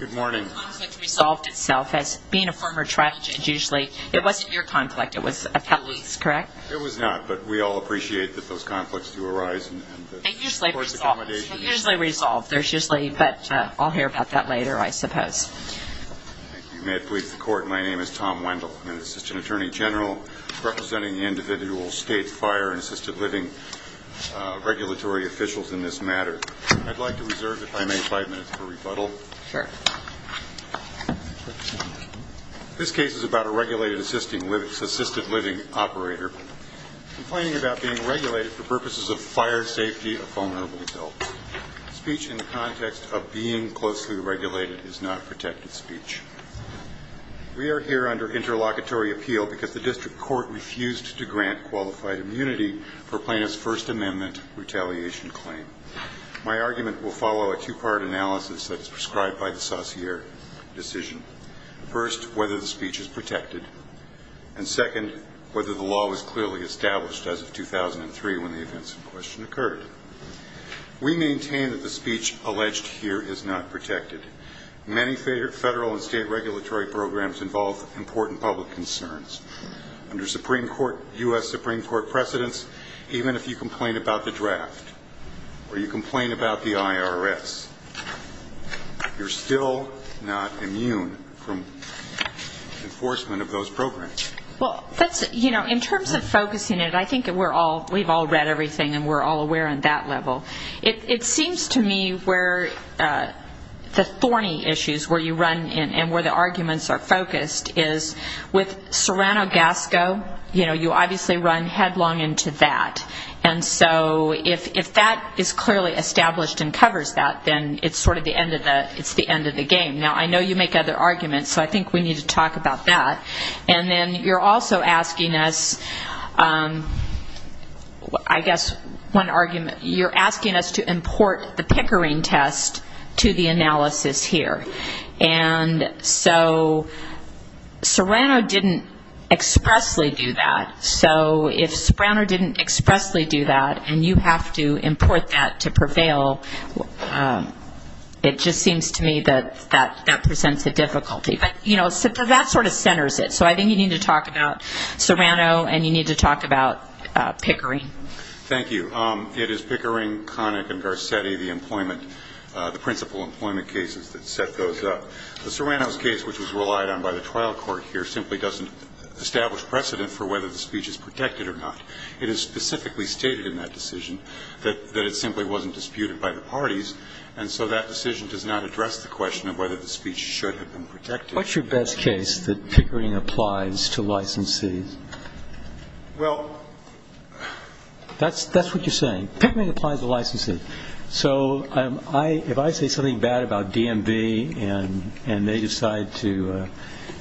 It was not, but we all appreciate that those conflicts do arise and the court's accommodation is usually resolved. There's usually, but I'll hear about that later, I suppose. You may have pleased the court. My name is Tom Wendell. I'm an assistant attorney general representing the individual state fire and assisted living regulatory officials in this matter. I'd like to reserve, if I may, five minutes for rebuttal. This case is about a regulated assisted living operator complaining about being regulated for purposes of fire safety of vulnerable adults. Speech in the context of being closely regulated is not protected speech. We are here under interlocutory appeal because the district court refused to grant qualified immunity for plaintiff's First Amendment retaliation claim. My argument will follow a two-part analysis that's prescribed by the Saussure decision. First, whether the speech is protected, and second, whether the law was clearly established as of 2003 when the events in question occurred. We maintain that the speech alleged here is not protected. Many federal and state regulatory programs involve important public concerns. Under Supreme Court, U.S. Supreme Court precedents, even if you complain about the draft or you complain about the IRS, you're still not immune from enforcement of those programs. Well, that's, you know, in terms of focusing it, I think we're all, we've all read everything and we're all aware on that level. It seems to me where the thorny issues where you run and where the arguments are focused is with Serrano-Gasco, you obviously run headlong into that. And so if that is clearly established and covers that, then it's sort of the end of the game. Now, I know you make other arguments, so I think we need to talk about that. And then you're also asking us, I guess one argument, you're asking us to import the Pickering test to the analysis here. And so Serrano didn't expressly do that. So if Serrano didn't expressly do that, and you have to import that to prevail, it just seems to me that that presents a difficulty. But, you know, that sort of centers it. So I think you need to talk about Serrano and you need to talk about Pickering. Thank you. It is Pickering, Connick and Garcetti, the employment, the principal employment cases that set those up. The Serrano's case, which was relied on by the trial court here, simply doesn't establish precedent for whether the speech is protected or not. It is specifically stated in that decision that it simply wasn't disputed by the parties. And so that decision does not address the question of whether the speech should have been protected. What's your best case that Pickering applies to licensees? Well, that's what you're saying. Pickering applies to licensees. So if I say something bad about DMV and they decide to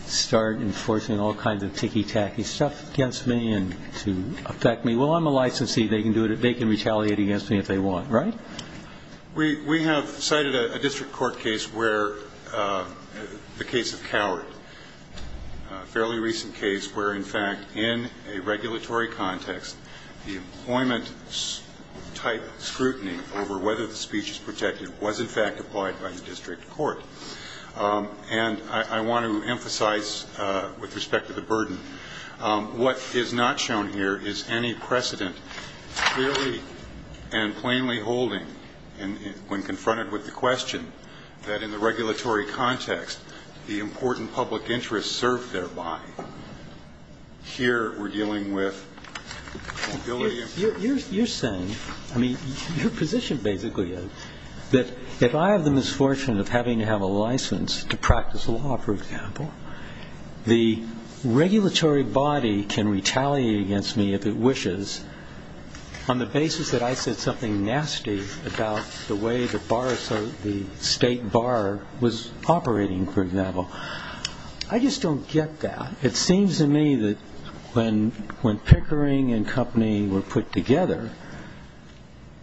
start enforcing all kinds of ticky-tacky stuff against me to affect me, well, I'm a licensee. They can do it. They can retaliate against me if they want. Right? We have cited a district court case where the case of Coward, a fairly recent case where, in fact, it was a case where, in a regulatory context, the employment-type scrutiny over whether the speech is protected was, in fact, applied by the district court. And I want to emphasize, with respect to the burden, what is not shown here is any precedent clearly and plainly holding, when confronted with the question, that in the regulatory context, the important public interest served thereby. Here we're dealing with mobility. You're saying, I mean, your position basically is that if I have the misfortune of having to have a license to practice law, for example, the regulatory body can retaliate against me if it wishes on the basis that I said something nasty about the way the case was handled. I just don't get that. It seems to me that when Pickering and company were put together,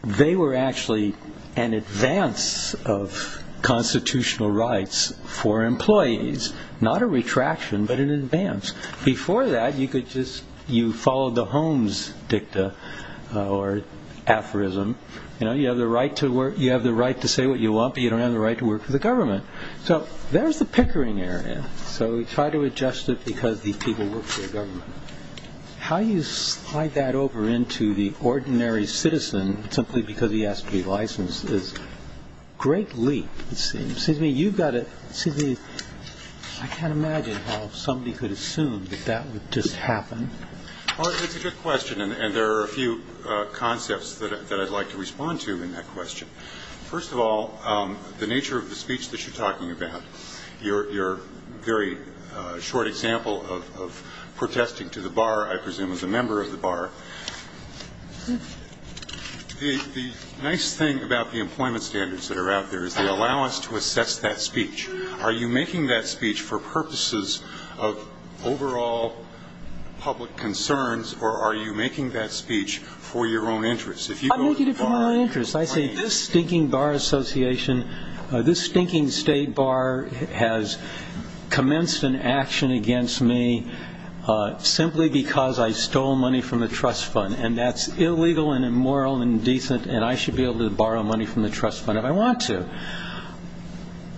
they were actually an advance of constitutional rights for employees, not a retraction, but an advance. Before that, you followed the Holmes dicta or aphorism. You have the right to say what you want, but you don't have the right to work for the government. So there's the Pickering area. So we try to adjust it because these people work for the government. How you slide that over into the ordinary citizen, simply because he has to be licensed, is a great leap, it seems. I can't imagine how somebody could assume that that would just happen. It's a good question, and there are a few concepts that I'd like to respond to in that question. First of all, the nature of the speech that you're talking about, your very short example of protesting to the bar, I presume as a member of the bar. The nice thing about the employment standards that are out there is they allow us to assess that speech. Are you making that speech for purposes of overall public concerns, or are you making that speech for your own interest? I'm making it for my own interest. I say this stinking bar association, this stinking state bar has commenced an action against me simply because I stole money from the trust fund, and that's illegal and immoral and indecent, and I should be able to borrow money from the trust fund if I want to.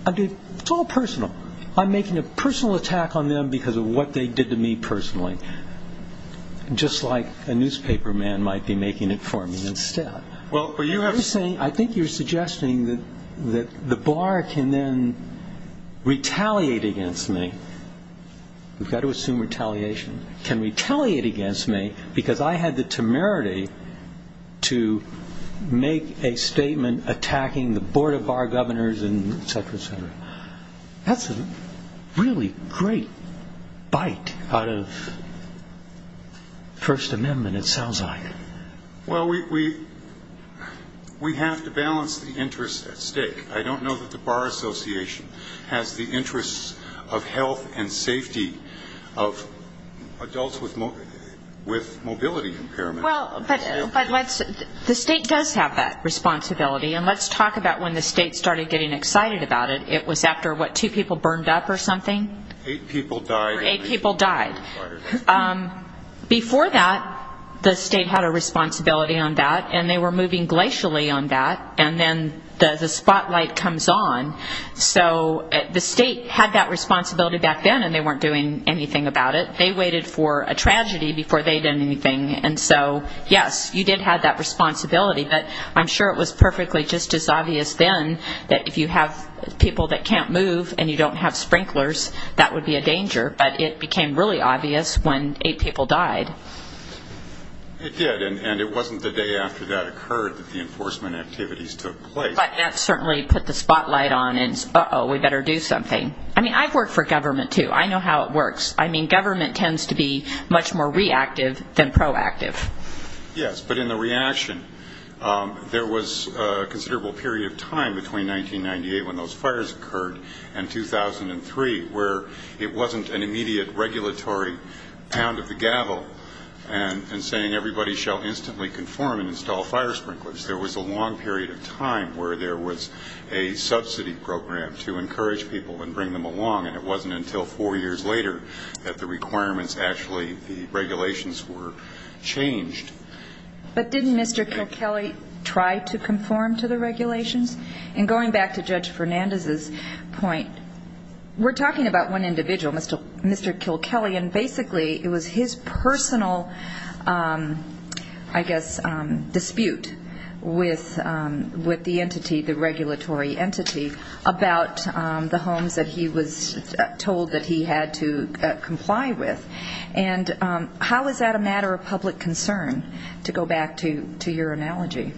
It's all personal. I'm making a personal attack on them because of what they did to me personally, just like a step. I think you're suggesting that the bar can then retaliate against me. We've got to assume retaliation. Can retaliate against me because I had the temerity to make a statement attacking the Board of Bar Governors, etc., etc. That's a really great bite out of First Amendment, it sounds like. Well, we have to balance the interests at stake. I don't know that the bar association has the interests of health and safety of adults with mobility impairment. Well, but the state does have that responsibility, and let's talk about when the state started getting excited about it. It was after, what, two people burned up or something? Eight people died. Before that, the state had a responsibility on that, and they were moving glacially on that, and then the spotlight comes on. So the state had that responsibility back then, and they weren't doing anything about it. They waited for a tragedy before they did anything, and so, yes, you did have that responsibility, but I'm sure it was perfectly just as obvious then that if you have people that can't move and you don't have sprinklers, that would be a danger, but it became really obvious when eight people died. It did, and it wasn't the day after that occurred that the enforcement activities took place. But that certainly put the spotlight on, uh-oh, we better do something. I mean, I've worked for government, too. I know how it works. I mean, government tends to be much more reactive than proactive. Yes, but in the reaction, there was a considerable period of time between 1998, when those fires occurred, and 2005, when the fires occurred, and 2003, where it wasn't an immediate regulatory pound of the gavel in saying everybody shall instantly conform and install fire sprinklers. There was a long period of time where there was a subsidy program to encourage people and bring them along, and it wasn't until four years later that the requirements actually, the regulations were changed. But didn't Mr. Kilkelly try to conform to the regulations? And going back to Judge Fernandez's point, really, he didn't. We're talking about one individual, Mr. Kilkelly, and basically it was his personal, I guess, dispute with the entity, the regulatory entity, about the homes that he was told that he had to comply with. And how is that a matter of public concern, to go back to your analogy,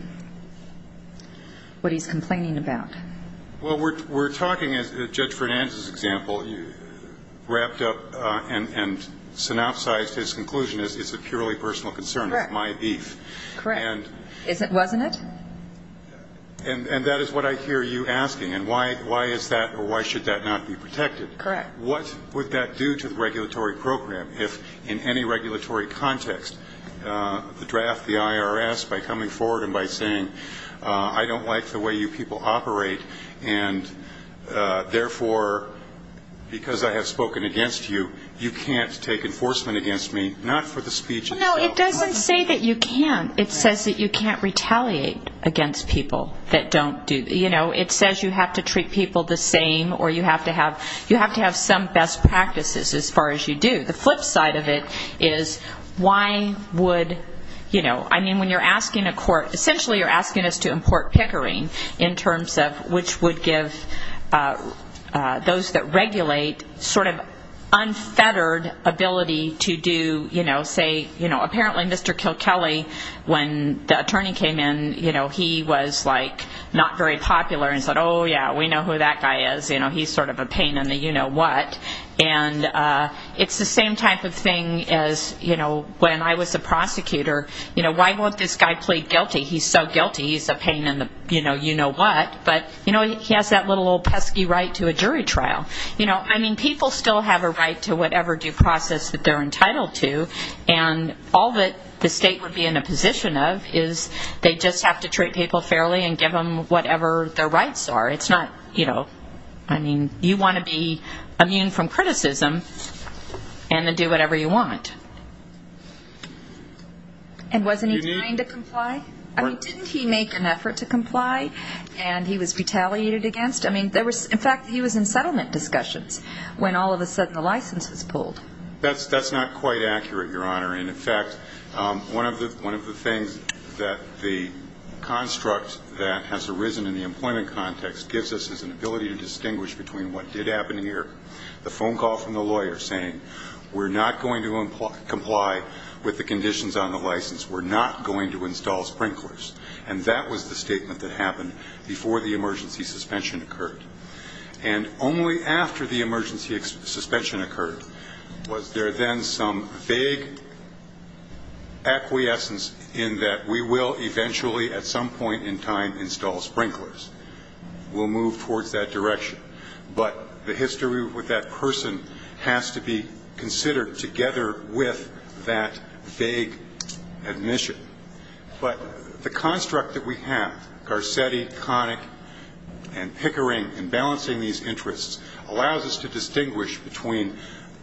what he's complaining about? Well, we're talking, as Judge Fernandez's example, wrapped up and synopsized his conclusion as it's a purely personal concern of my beef. Correct. Wasn't it? And that is what I hear you asking, and why is that, or why should that not be protected? Correct. What would that do to the regulatory program, if in any regulatory context, the draft, the IRS, by coming forward and by saying, I don't like the way you people operate, and therefore, because I have spoken against you, you can't take enforcement against me, not for the speech itself. No, it doesn't say that you can't. It says that you can't retaliate against people that don't do, you know, it says you have to treat people the same, or you have to have some best practices as far as you do. The flip side of it is, why would, you know, I mean, when you're asking a court, essentially you're asking us to import pickering, in terms of which would give those that regulate sort of unfettered ability to do, you know, say, apparently Mr. Kilkelly, when the attorney came in, he was, like, not very popular, and said, oh, yeah, we know who that guy is, you know, he's sort of a pain in the you-know-what, and it's the same type of thing as, you know, when I was a prosecutor, you know, why won't this guy plead guilty, he's so guilty, he's a pain in the, you know, you-know-what, but, you know, he has that little old pesky right to a jury trial. I mean, people still have a right to whatever due process that they're entitled to, and all that the state would be in a position of, is they just have to treat people fairly and give them whatever their rights are. It's not, you know, I mean, you want to be immune from criticism, and then do whatever you want. And wasn't he trying to comply? I mean, didn't he make an effort to comply, and he was retaliated against? I mean, in fact, he was in settlement discussions, when all of a sudden the license was pulled. That's not quite accurate, Your Honor, and, in fact, one of the things that the construct that has arisen in the employment context gives us is an ability to distinguish between what did happen here, the phone call from the lawyer saying, we're not going to comply with the conditions on the license, we're not going to install sprinklers, and that was the statement that happened before the emergency suspension occurred. And only after the emergency suspension occurred did the lawyer say, you know, we're not going to comply with the conditions on the license. Was there then some vague acquiescence in that we will eventually at some point in time install sprinklers? We'll move towards that direction. But the history with that person has to be considered together with that vague admission. But the construct that we have, Garcetti, Connick, and Pickering, and balancing these interests, allows us to distinguish between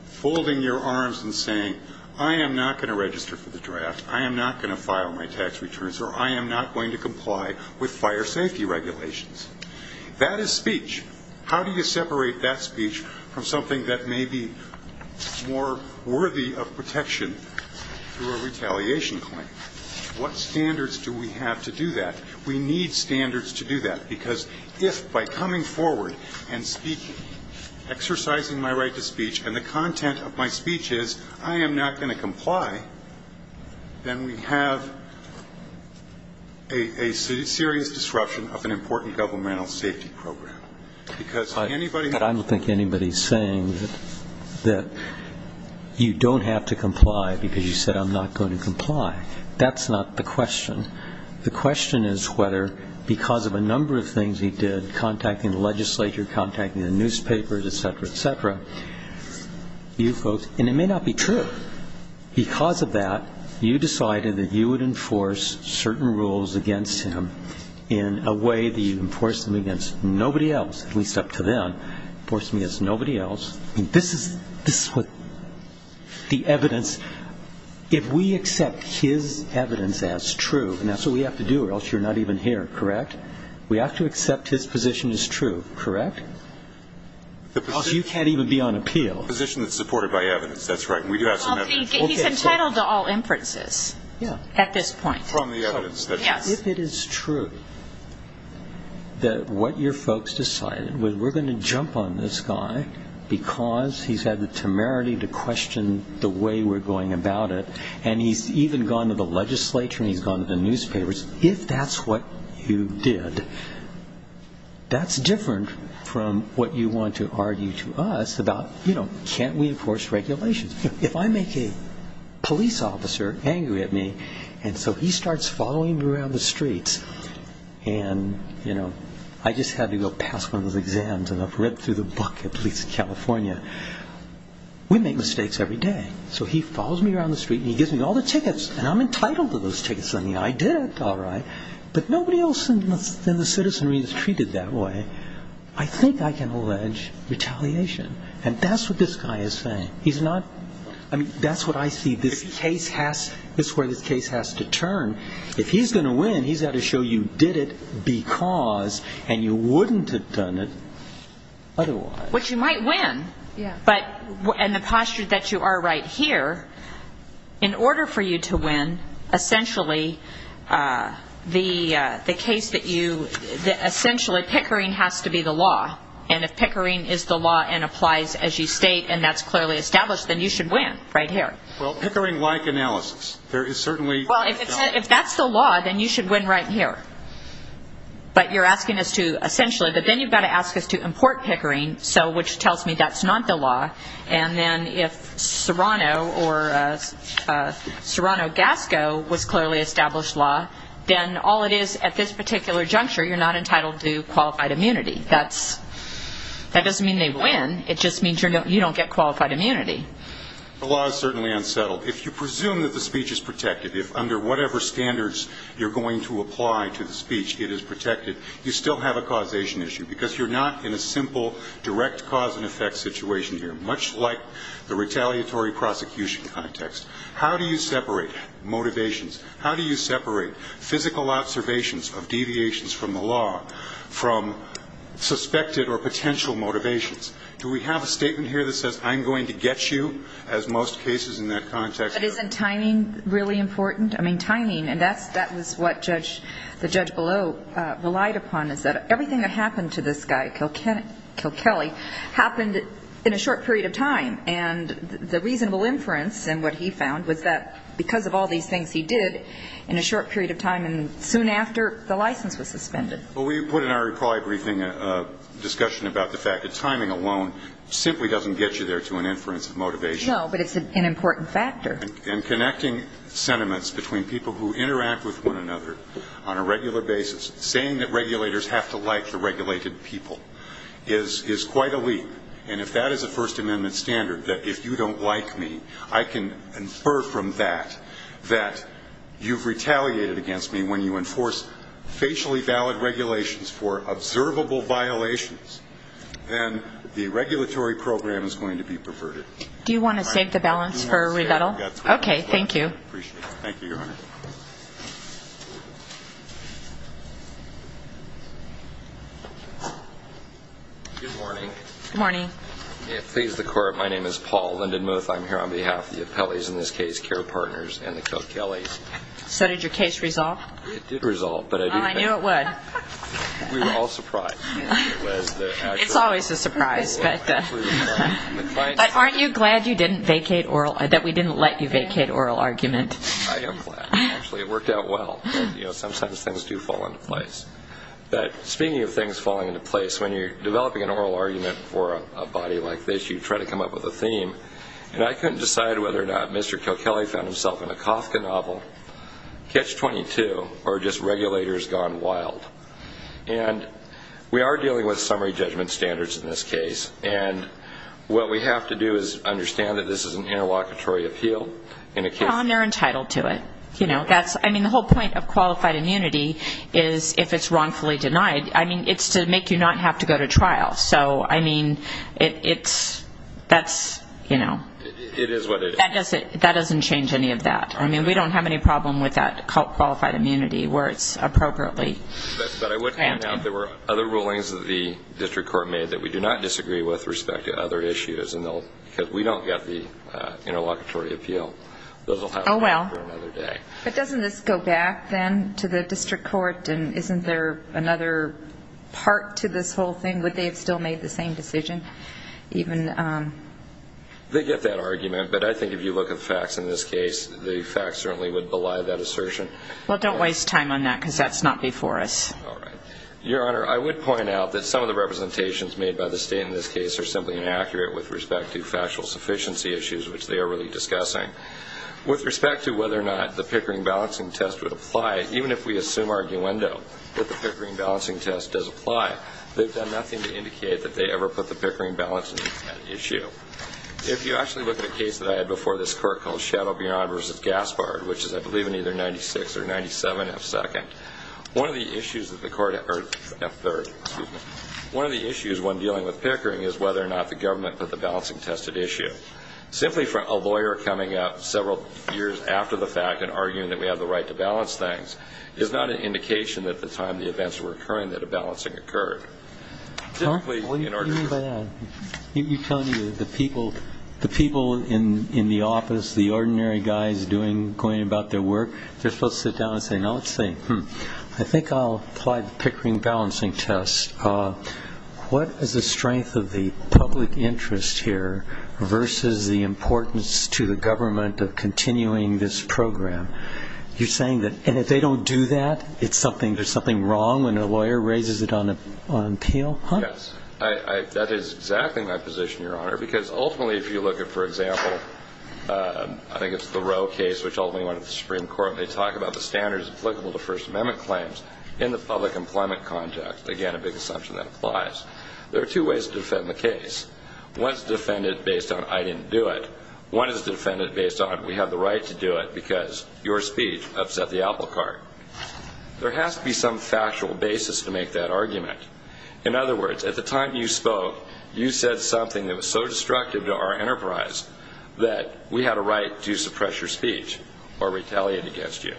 folding your arms and saying, I am not going to register for the draft, I am not going to file my tax returns, or I am not going to comply with fire safety regulations. That is speech. How do you separate that speech from something that may be more worthy of protection through a retaliation claim? What standards do we have to do that? We need standards to do that, because if by coming to the content of my speech is, I am not going to comply, then we have a serious disruption of an important governmental safety program. Because if anybody has to comply. I don't think anybody is saying that you don't have to comply because you said I'm not going to comply. That's not the question. The question is whether, because of a number of things he did, contacting the legislature, contacting the newspapers, et cetera, et cetera, you folks, and it may not be true, because of that, you decided that you would enforce certain rules against him in a way that you would enforce them against nobody else, at least up to them, enforce them against nobody else. This is what the evidence, if we accept his evidence as true, and that's what we have to do or else you're not even here, correct? We have to accept his position as true, correct? Because you can't even be on appeal. The position that's supported by evidence, that's right. He's entitled to all inferences at this point. If it is true that what your folks decided was we're going to jump on this guy because he's had the temerity to question the way we're going about it, and he's even gone to the legislature and he's gone to the newspapers, if that's what you did, that's different from what you want to argue to us about, you know, can't we enforce regulations? If I make a police officer angry at me, and so he starts following me around the streets, and, you know, I just had to go pass one of those exams, and I've read through the book at Police of California, we make mistakes every day. So he follows me around the street and he gives me all the tickets, and I'm entitled to those tickets, I mean, I did it, all right, but nobody else in the citizenry is treated that way. I think I can allege retaliation, and that's what this guy is saying. He's not, I mean, that's what I see, this case has, this is where this case has to turn. If he's going to win, he's got to show you did it because, and you wouldn't have done it otherwise. Which you might win, but in the posture that you are right here, in order for you to win, essentially, the case that you, essentially, Pickering has to win, it has to be the law, and if Pickering is the law and applies as you state, and that's clearly established, then you should win, right here. Well, Pickering-like analysis, there is certainly... Well, if that's the law, then you should win right here, but you're asking us to, essentially, but then you've got to ask us to import Pickering, so, which tells me that's not the law, and then if Serrano or Serrano-Gasco was clearly established law, then all it is at this particular juncture, you're not entitled to qualified immunity. That's, that doesn't mean they win, it just means you don't get qualified immunity. The law is certainly unsettled. If you presume that the speech is protected, if under whatever standards you're going to apply to the speech it is protected, you still have a causation issue, because you're not in a simple direct cause and effect situation here, much like the retaliatory prosecution context. How do you separate motivations? How do you separate physical observations of deviations from the law from suspected or potential motivations? Do we have a statement here that says, I'm going to get you, as most cases in that context... But isn't timing really important? I mean, timing, and that's, that was what Judge, the judge below relied upon, is that everything that happened to this guy, Kilkelly, happened in a short period of time, and the reasonable inference, and what he found, was that because of all these things he did, he was going to get you. And he was going to get you. And so, he did in a short period of time, and soon after, the license was suspended. But we put in our reply briefing a discussion about the fact that timing alone simply doesn't get you there to an inference of motivation. No, but it's an important factor. And connecting sentiments between people who interact with one another on a regular basis, saying that regulators have to like the regulated people, is quite a leap. You've retaliated against me when you enforce facially valid regulations for observable violations, then the regulatory program is going to be perverted. Do you want to save the balance for a rebuttal? Good morning. Good morning. So did your case resolve? It did resolve, but I didn't... We were all surprised. It's always a surprise. But aren't you glad that we didn't let you vacate oral argument? I am glad. Actually, it worked out well. Sometimes things do fall into place. But speaking of things falling into place, when you're developing an oral argument for a body like this, you try to come up with a theme. And I couldn't decide whether or not Mr. Kilkelly found himself in a Kafka novel, Catch-22, or just regulators gone wild. And we are dealing with summary judgment standards in this case, and what we have to do is understand that this is an interlocutory appeal. And they're entitled to it. The whole point of qualified immunity is, if it's wrongfully denied, it's to make you not have to go to trial. That doesn't change any of that. I mean, we don't have any problem with that qualified immunity where it's appropriately granted. But I would point out there were other rulings that the district court made that we do not disagree with with respect to other issues, because we don't get the interlocutory appeal. Those will have to wait for another day. But doesn't this go back, then, to the district court, and isn't there another part to this whole thing? Would they have still made the same decision? They get that argument, but I think if you look at the facts in this case, the facts certainly would belie that assertion. Well, don't waste time on that, because that's not before us. Your Honor, I would point out that some of the representations made by the state in this case are simply inaccurate with respect to factual sufficiency issues, which they are really discussing. With respect to whether or not the Pickering balancing test would apply, even if we assume arguendo that the Pickering balancing test does apply, they've done nothing wrong. They're just trying to indicate that they ever put the Pickering balancing test at issue. If you actually look at a case that I had before this court called Shadow Beyond v. Gaspard, which is, I believe, in either 96 or 97F2nd, one of the issues when dealing with Pickering is whether or not the government put the balancing test at issue. Simply for a lawyer coming up several years after the fact and arguing that we have the right to balance things is not an indication that at the time the events were occurring that a balancing occurred. What do you mean by that? You're telling me that the people in the office, the ordinary guys going about their work, they're supposed to sit down and say, no, let's see, I think I'll apply the Pickering balancing test. What is the strength of the public interest here versus the importance to the government of continuing this program? You're saying that if they don't do that, there's something wrong when a lawyer raises it on appeal? That is exactly my position, Your Honor, because ultimately if you look at, for example, I think it's the Roe case, which ultimately went to the Supreme Court, and they talk about the standards applicable to First Amendment claims in the public employment context, again, a big assumption that applies, there are two ways to defend the case. One is to defend it based on I didn't do it. One is to defend it based on we have the right to do it because your speech upset the apple cart. There has to be some factual basis to make that argument. In other words, at the time you spoke, you said something that was so destructive to our enterprise that we had a right to suppress your speech or retaliate against you.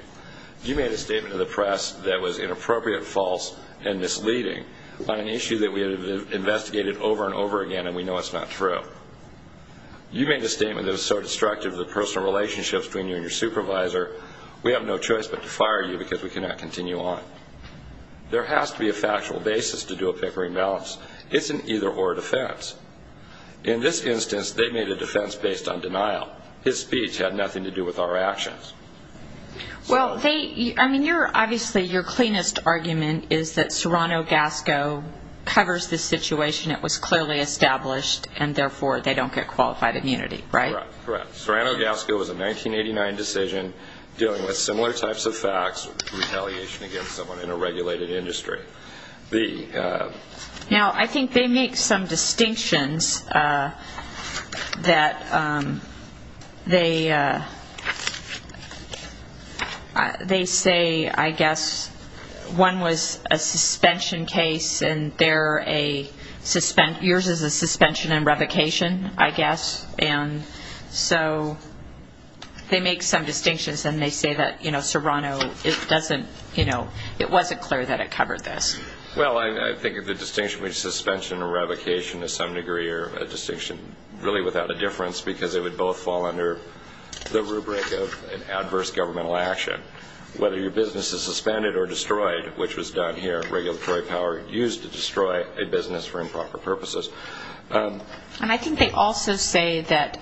You made a statement to the press that was inappropriate, false, and misleading on an issue that we have investigated over and over again and we know it's not true. You made a statement that was so destructive to the personal relationship between you and your supervisor, we have no choice but to fire you because we cannot continue on. There has to be a factual basis to do a Pickering balance. It's an either-or defense. In this instance, they made a defense based on denial. His speech had nothing to do with our actions. Well, obviously your cleanest argument is that Serrano-Gasco covers this situation. It was clearly established and therefore they don't get qualified immunity, right? Correct. Serrano-Gasco was a 1989 decision dealing with similar types of facts, retaliation against someone in a regulated industry. Now, I think they make some distinctions that they say, I guess, one was a suspension case and yours is a suspension and revocation, I guess, and so they make some distinctions and they say that Serrano, it wasn't clear that it covered this. Well, I think the distinction between suspension and revocation is some degree a distinction really without a difference because they would both fall under the rubric of an adverse governmental action. Whether your business is suspended or destroyed, which was done here, regulatory power used to destroy a business for improper purposes. And I think they also say that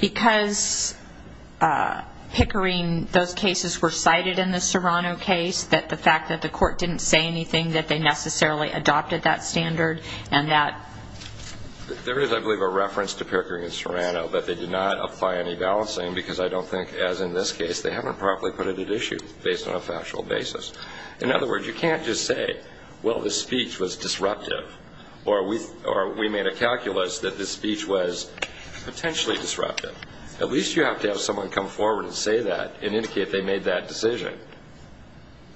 because Pickering, those cases were cited in the Serrano case, that the fact that the court didn't say anything that they necessarily adopted that standard and that... There is, I believe, a reference to Pickering and Serrano, but they did not apply any balancing because I don't think, as in this case, they haven't properly put it at issue based on a factual basis. In other words, you can't just say, well, the speech was disruptive, or we made a calculus that the speech was potentially disruptive. At least you have to have someone come forward and say that and indicate they made that decision.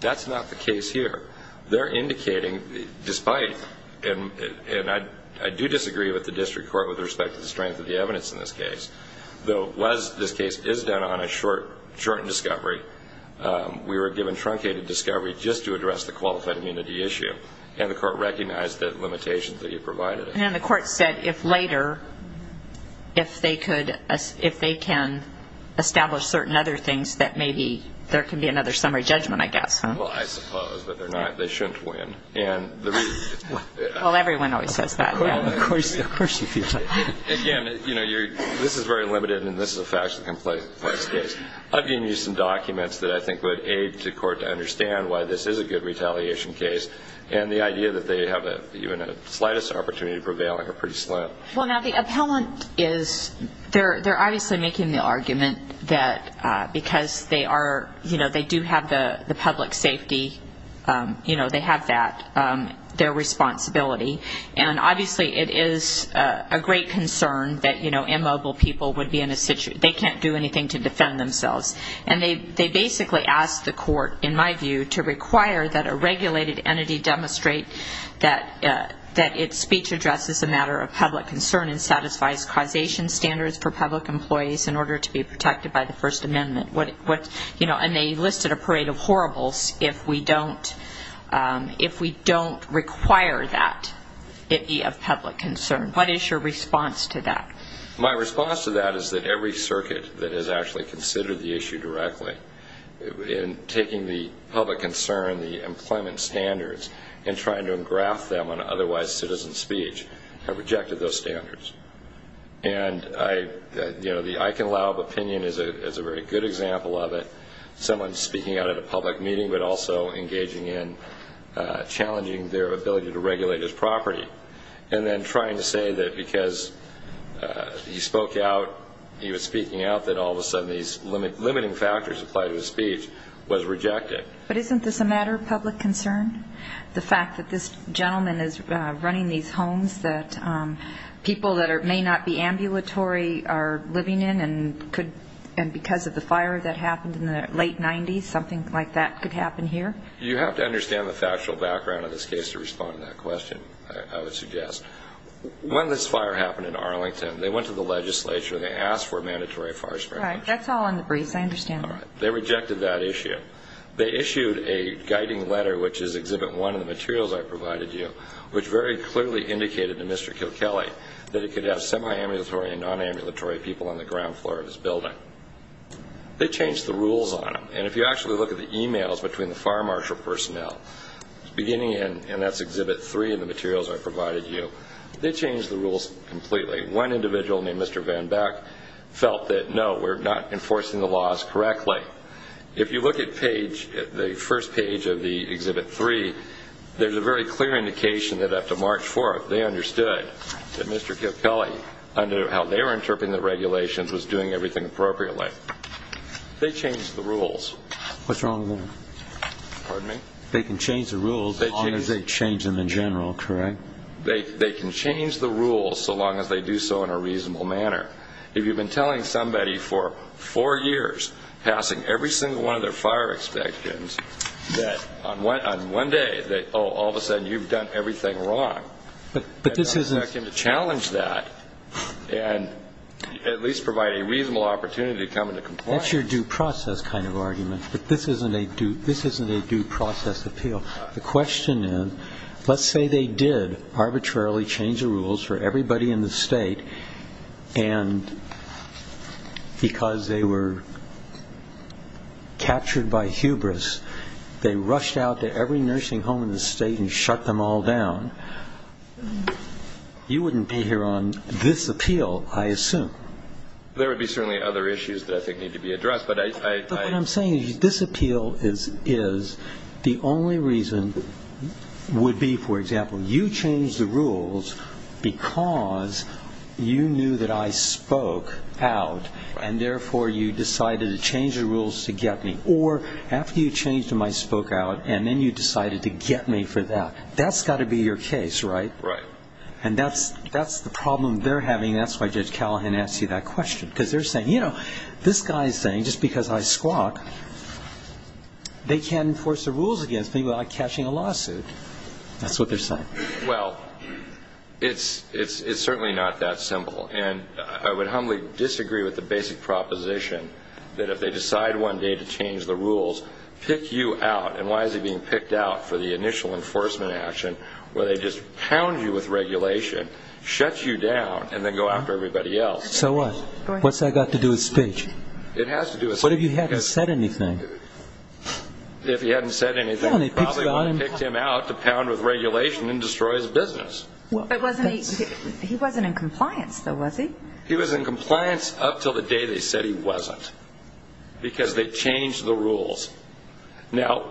That's not the case here. They're indicating, despite, and I do disagree with the district court with respect to the strength of the evidence in this case, though, as this case is done on a shortened discovery, we were given truncated discovery just to address the qualified immunity issue, and the court recognized the limitations that you provided. And the court said if later, if they can establish certain other things, that maybe there can be another summary judgment, I guess. Well, I suppose, but they shouldn't win. Well, everyone always says that. Again, this is very limited, and this is a factually complex case. I've given you some documents that I think would aid the court to understand why this is a good retaliation case, and the idea that they have even the slightest opportunity of prevailing are pretty slim. Well, now, the appellant is, they're obviously making the argument that because they are, you know, they do have the public safety, you know, they have that, their responsibility, and obviously it is a great concern that, you know, immobile people would be in a situation, they can't do anything to defend themselves. And they basically asked the court, in my view, to require that a regulated entity demonstrate that its speech addresses a matter of public concern and satisfies causation standards for public employees in order to be protected by the First Amendment. And they listed a parade of horribles if we don't require that it be of public concern. What is your response to that? My response to that is that every circuit that has actually considered the issue directly, in taking the public concern, the employment standards, and trying to engraft them on otherwise citizen speech have rejected those standards. And, you know, the I can allow of opinion is a very good example of it, someone speaking out at a public meeting but also engaging in challenging their ability to regulate his property. And then trying to say that because he spoke out, he was speaking out, that all of a sudden these limiting factors applied to his speech was rejected. But isn't this a matter of public concern? The fact that this gentleman is running these homes that people that may not be ambulatory are living in and because of the fire that happened in the late 90s, something like that could happen here? You have to understand the factual background of this case to respond to that question, I would suggest. When this fire happened in Arlington, they went to the legislature and they asked for a mandatory fire spread. That's all in the briefs, I understand. They rejected that issue. They issued a guiding letter, which is Exhibit 1 in the materials I provided you, which very clearly indicated to Mr. Kilkelly that he could have semi-ambulatory and non-ambulatory people on the ground floor of his building. They changed the rules on them. And if you actually look at the emails between the fire marshal personnel, beginning, and that's Exhibit 3 in the materials I provided you, they changed the rules completely. One individual named Mr. Van Back felt that, no, we're not enforcing the laws correctly. If you look at the first page of the Exhibit 3, there's a very clear indication that after March 4th, they understood that Mr. Kilkelly, under how they were interpreting the regulations, was doing everything appropriately. They changed the rules. They can change the rules as long as they change them in general, correct? They can change the rules so long as they do so in a reasonable manner. If you've been telling somebody for four years, passing every single one of their fire inspections, that on one day, oh, all of a sudden you've done everything wrong, then I expect them to challenge that and at least provide a reasonable opportunity to come into compliance. That's your due process kind of argument, but this isn't a due process appeal. The question is, let's say they did arbitrarily change the rules for everybody in the state, and because they were captured by hubris, they rushed out to every nursing home in the state and shut them all down. You wouldn't be here on this appeal, I assume. There would be certainly other issues that I think need to be addressed. But what I'm saying is this appeal is the only reason would be, for example, you changed the rules because you knew that I spoke out, and therefore you decided to change the rules to get me. Or after you changed them, I spoke out, and then you decided to get me for that. That's got to be your case, right? And that's the problem they're having, and that's why Judge Callahan asked you that question. Because they're saying, you know, this guy's saying just because I squawk, they can't enforce the rules against me without catching a lawsuit. That's what they're saying. Well, it's certainly not that simple, and I would humbly disagree with the basic proposition that if they decide one day to change the rules, pick you out, and why is he being picked out for the initial enforcement action where they just pound you with regulation, shut you down, and then go after everybody else? So what? What's that got to do with speech? It has to do with speech. What if you hadn't said anything? If he hadn't said anything, they probably would have picked him out to pound with regulation and destroy his business. He wasn't in compliance, though, was he? He was in compliance up until the day they said he wasn't because they changed the rules. Now,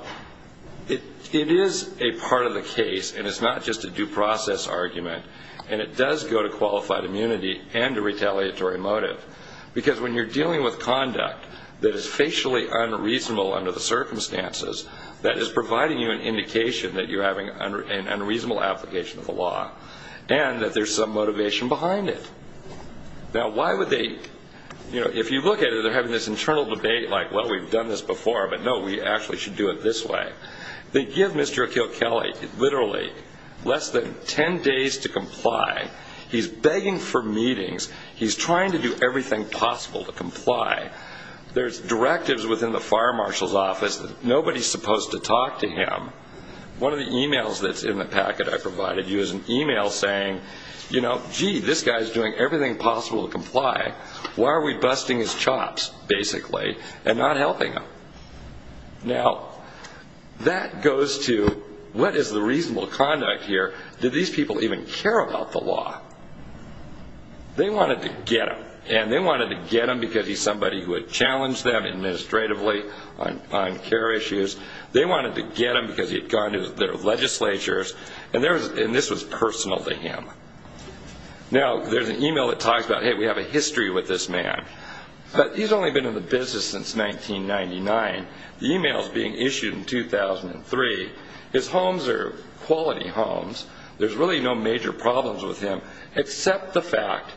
it is a part of the case, and it's not just a due process argument, and it does go to qualified immunity and a retaliatory motive. Because when you're dealing with conduct that is facially unreasonable under the circumstances, that is providing you an indication that you're having an unreasonable application of the law and that there's some motivation behind it. Now, why would they, you know, if you look at it, they're having this internal debate like, well, we've done this before, but no, we actually should do it this way. They give Mr. Kilkelly literally less than 10 days to comply. He's begging for meetings. He's trying to do everything possible to comply. There's directives within the fire marshal's office that nobody's supposed to talk to him. One of the e-mails that's in the packet I provided you is an e-mail saying, you know, gee, this guy's doing everything possible to comply. Why are we busting his chops, basically, and not helping him? Now, that goes to what is the reasonable conduct here? Did these people even care about the law? They wanted to get him, and they wanted to get him because he's somebody who had challenged them administratively on care issues. They wanted to get him because he had gone to their legislatures, and this was personal to him. Now, there's an e-mail that talks about, hey, we have a history with this man, but he's only been in the business since 1999. The e-mail is being issued in 2003. His homes are quality homes. There's really no major problems with him except the fact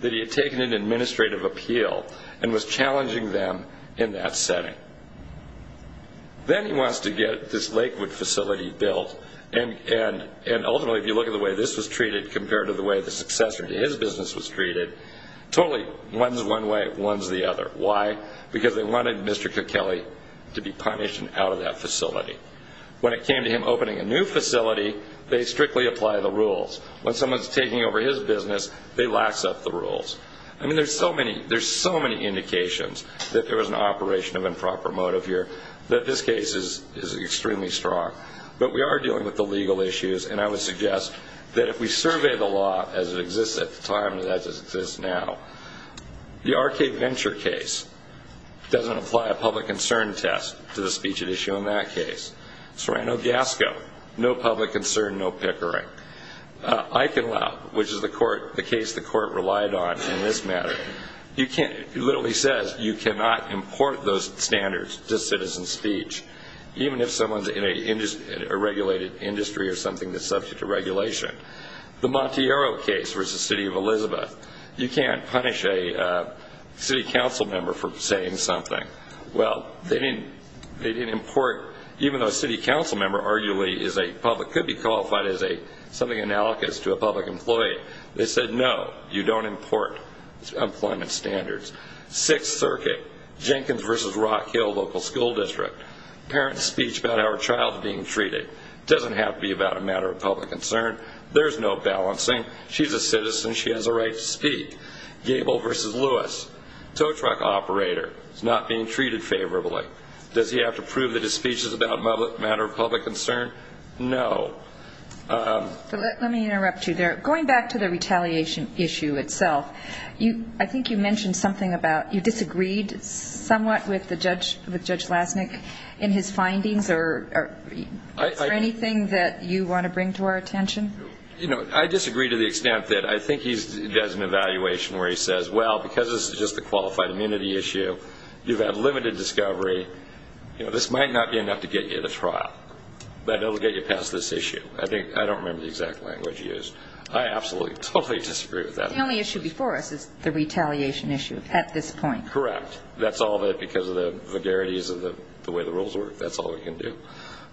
that he had taken an administrative appeal and was challenging them in that setting. Then he wants to get this Lakewood facility built, and ultimately, if you look at the way this was treated compared to the way the successor to his business was treated, totally one's one way, one's the other. Why? Because they wanted Mr. Kukele to be punished and out of that facility. When it came to him opening a new facility, they strictly apply the rules. When someone's taking over his business, they lax up the rules. I mean, there's so many indications that there was an operation of improper motive here that this case is extremely strong. But we are dealing with the legal issues, and I would suggest that if we survey the law as it exists at the time and as it exists now, the RK Venture case doesn't apply a public concern test to the speech at issue in that case. Sorano-Gasco, no public concern, no pickering. Eichenlau, which is the case the court relied on in this matter, literally says you cannot import those standards to citizen speech, even if someone's in a regulated industry or something that's subject to regulation. The Monteiro case v. City of Elizabeth, you can't punish a city council member for saying something. Well, they didn't import, even though a city council member arguably is a public, could be qualified as something analogous to a public employee, they said no, you don't import employment standards. Sixth Circuit, Jenkins v. Rock Hill Local School District, parent's speech about our child being treated. It doesn't have to be about a matter of public concern. There's no balancing. She's a citizen. She has a right to speak. Gable v. Lewis, tow truck operator. He's not being treated favorably. Does he have to prove that his speech is about a matter of public concern? No. Let me interrupt you there. Going back to the retaliation issue itself, I think you mentioned something about you disagreed somewhat with Judge Lasnik in his findings, or is there anything that you want to bring to our attention? I disagree to the extent that I think he does an evaluation where he says, well, because this is just a qualified immunity issue, you've had limited discovery, this might not be enough to get you to trial, but it will get you past this issue. I don't remember the exact language used. I absolutely totally disagree with that. The only issue before us is the retaliation issue at this point. Correct. That's all of it because of the vagarities of the way the rules work. That's all we can do.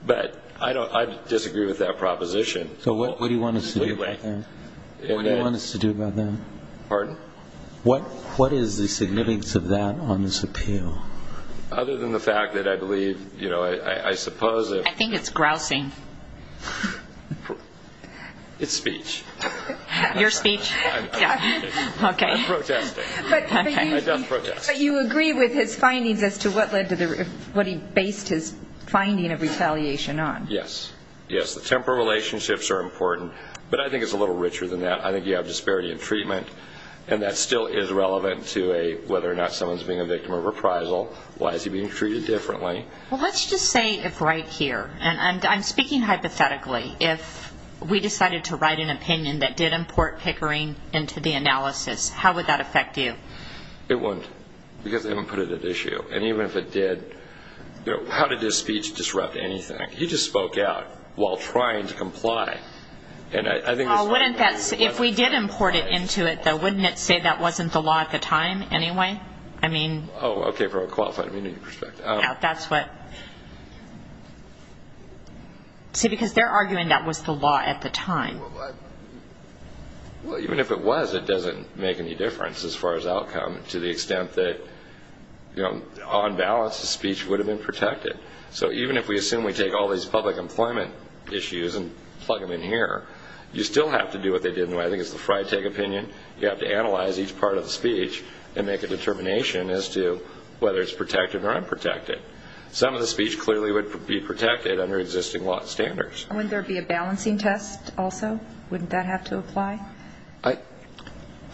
But I disagree with that proposition. So what do you want us to do about that? What do you want us to do about that? Pardon? What is the significance of that on this appeal? Other than the fact that I believe, you know, I suppose if I think it's grousing. It's speech. Your speech? I'm protesting. I don't protest. But you agree with his findings as to what led to the what he based his finding of retaliation on? Yes. Yes, the temporal relationships are important, but I think it's a little richer than that. I think you have disparity in treatment, and that still is relevant to whether or not someone is being a victim of reprisal, why is he being treated differently. Well, let's just say if right here, and I'm speaking hypothetically, if we decided to write an opinion that did import Pickering into the analysis, how would that affect you? It wouldn't, because they wouldn't put it at issue. And even if it did, you know, how did his speech disrupt anything? He just spoke out while trying to comply. If we did import it into it, though, wouldn't it say that wasn't the law at the time anyway? Oh, okay, from a qualifying perspective. Yeah, that's what. See, because they're arguing that was the law at the time. Well, even if it was, it doesn't make any difference as far as outcome to the extent that, you know, on balance, the speech would have been protected. So even if we assume we take all these public employment issues and plug them in here, you still have to do what they did. I think it's the Freitag opinion. You have to analyze each part of the speech and make a determination as to whether it's protected or unprotected. Some of the speech clearly would be protected under existing law standards. Wouldn't there be a balancing test also? Wouldn't that have to apply?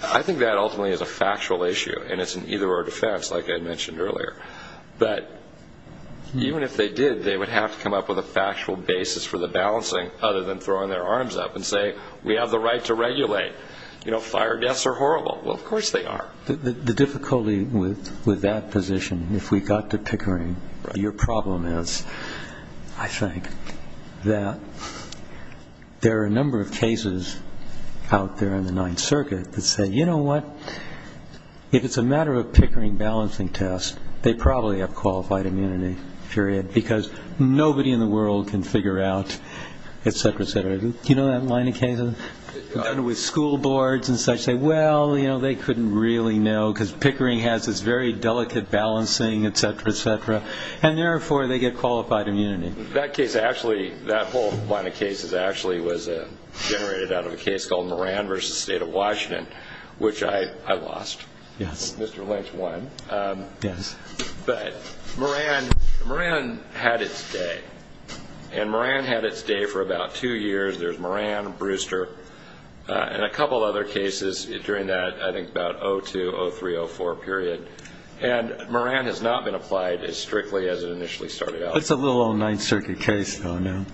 I think that ultimately is a factual issue, and it's an either-or defense like I mentioned earlier. But even if they did, they would have to come up with a factual basis for the balancing other than throwing their arms up and say, we have the right to regulate. You know, fire deaths are horrible. Well, of course they are. The difficulty with that position, if we got to Pickering, your problem is, I think, that there are a number of cases out there in the Ninth Circuit that say, you know what, if it's a matter of Pickering balancing test, they probably have qualified immunity, period, because nobody in the world can figure out, et cetera, et cetera. Do you know that line of cases? With school boards and such, they say, well, you know, they couldn't really know, because Pickering has this very delicate balancing, et cetera, et cetera, and therefore they get qualified immunity. That case actually, that whole line of cases actually was generated out of a case called Moran v. State of Washington, which I lost. Mr. Lynch won. But Moran had its day, and Moran had its day for about two years. There's Moran, Brewster, and a couple other cases during that, I think, about 0-2, 0-3, 0-4 period. And Moran has not been applied as strictly as it initially started out. It's a little old Ninth Circuit case, though, now.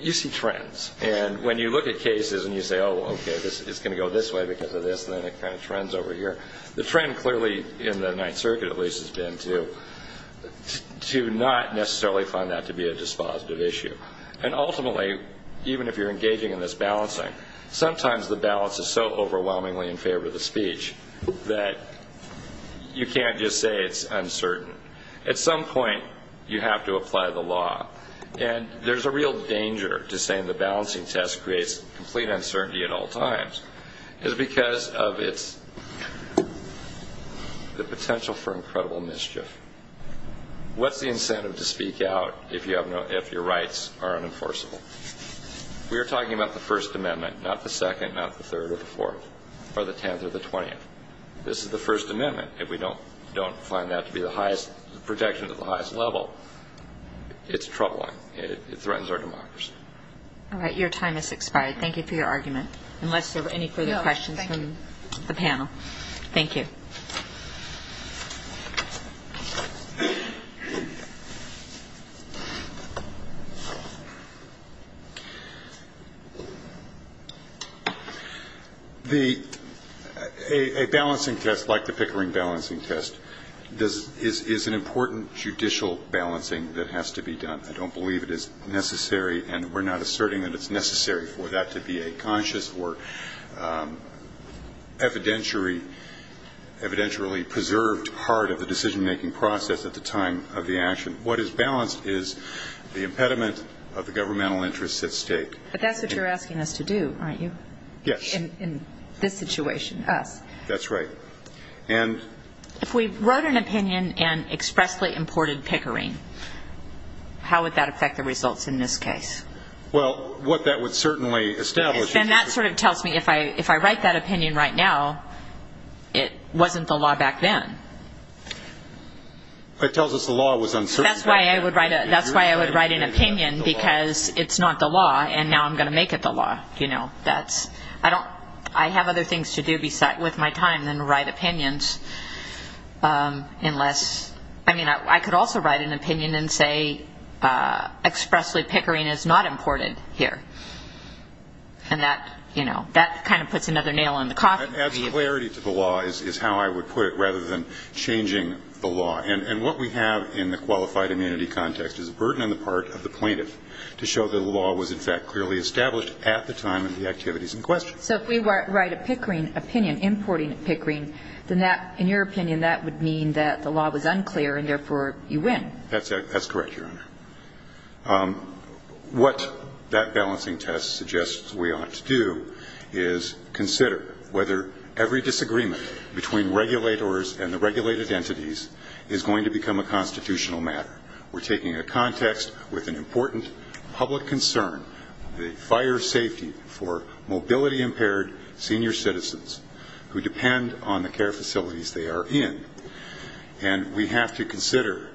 You see trends. And when you look at cases and you say, oh, okay, it's going to go this way because of this, and then it kind of trends over here, the trend clearly, in the Ninth Circuit at least, has been to not necessarily find that to be a dispositive issue. And ultimately, even if you're engaging in this balancing, sometimes the balance is so overwhelmingly in favor of the speech that you can't just say it's uncertain. At some point you have to apply the law. And there's a real danger to saying the balancing test creates complete uncertainty at all times. It's because of the potential for incredible mischief. What's the incentive to speak out if your rights are unenforceable? We are talking about the First Amendment, not the Second, not the Third or the Fourth, or the Tenth or the Twentieth. This is the First Amendment. If we don't find that to be the highest protection at the highest level, it's troubling. It threatens our democracy. All right. Your time has expired. Thank you for your argument, unless there are any further questions from the panel. Thank you. A balancing test like the Pickering balancing test is an important judicial balancing that has to be done. I don't believe it is necessary, and we're not asserting that it's necessary for that to be a conscious or evidentially preserved part of the decision-making process at the time of the action. What is balanced is the impediment of the governmental interests at stake. But that's what you're asking us to do, aren't you? Yes. In this situation, us. That's right. If we wrote an opinion and expressly imported Pickering, how would that affect the results in this case? Well, what that would certainly establish. Then that sort of tells me if I write that opinion right now, it wasn't the law back then. It tells us the law was uncertain back then. That's why I would write an opinion, because it's not the law, and now I'm going to make it the law. I have other things to do with my time than write opinions. I mean, I could also write an opinion and say expressly Pickering is not imported here. And that kind of puts another nail in the coffin. It adds clarity to the law, is how I would put it, rather than changing the law. And what we have in the qualified immunity context is a burden on the part of the plaintiff to show that the law was, in fact, clearly established at the time of the activities in question. So if we write a Pickering opinion, importing Pickering, then that, in your opinion, that would mean that the law was unclear, and therefore you win. That's correct, Your Honor. What that balancing test suggests we ought to do is consider whether every disagreement between regulators and the regulated entities is going to become a constitutional matter. We're taking a context with an important public concern, the fire safety for mobility-impaired senior citizens who depend on the care facilities they are in, and we have to consider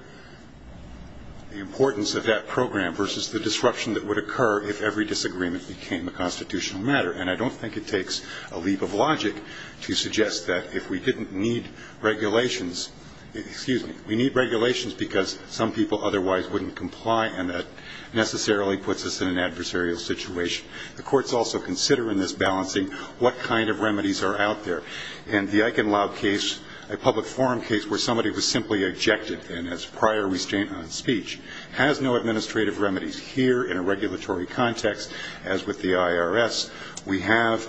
the importance of that program versus the disruption that would occur if every disagreement became a constitutional matter. And I don't think it takes a leap of logic to suggest that if we didn't need regulations ñ excuse me. We need regulations because some people otherwise wouldn't comply, and that necessarily puts us in an adversarial situation. The courts also consider in this balancing what kind of remedies are out there. In the Eichenlaub case, a public forum case where somebody was simply ejected, and as prior restraint on speech, has no administrative remedies. Here, in a regulatory context, as with the IRS, we have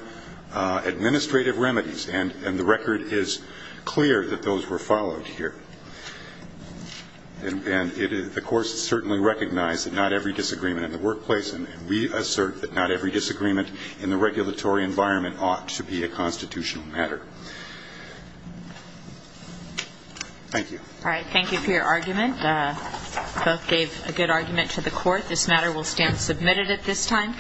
administrative remedies, and the record is clear that those were followed here. And the courts certainly recognize that not every disagreement in the workplace, and we assert that not every disagreement in the regulatory environment ought to be a constitutional matter. Thank you. All right, thank you for your argument. Both gave a good argument to the court. This matter will stand submitted at this time.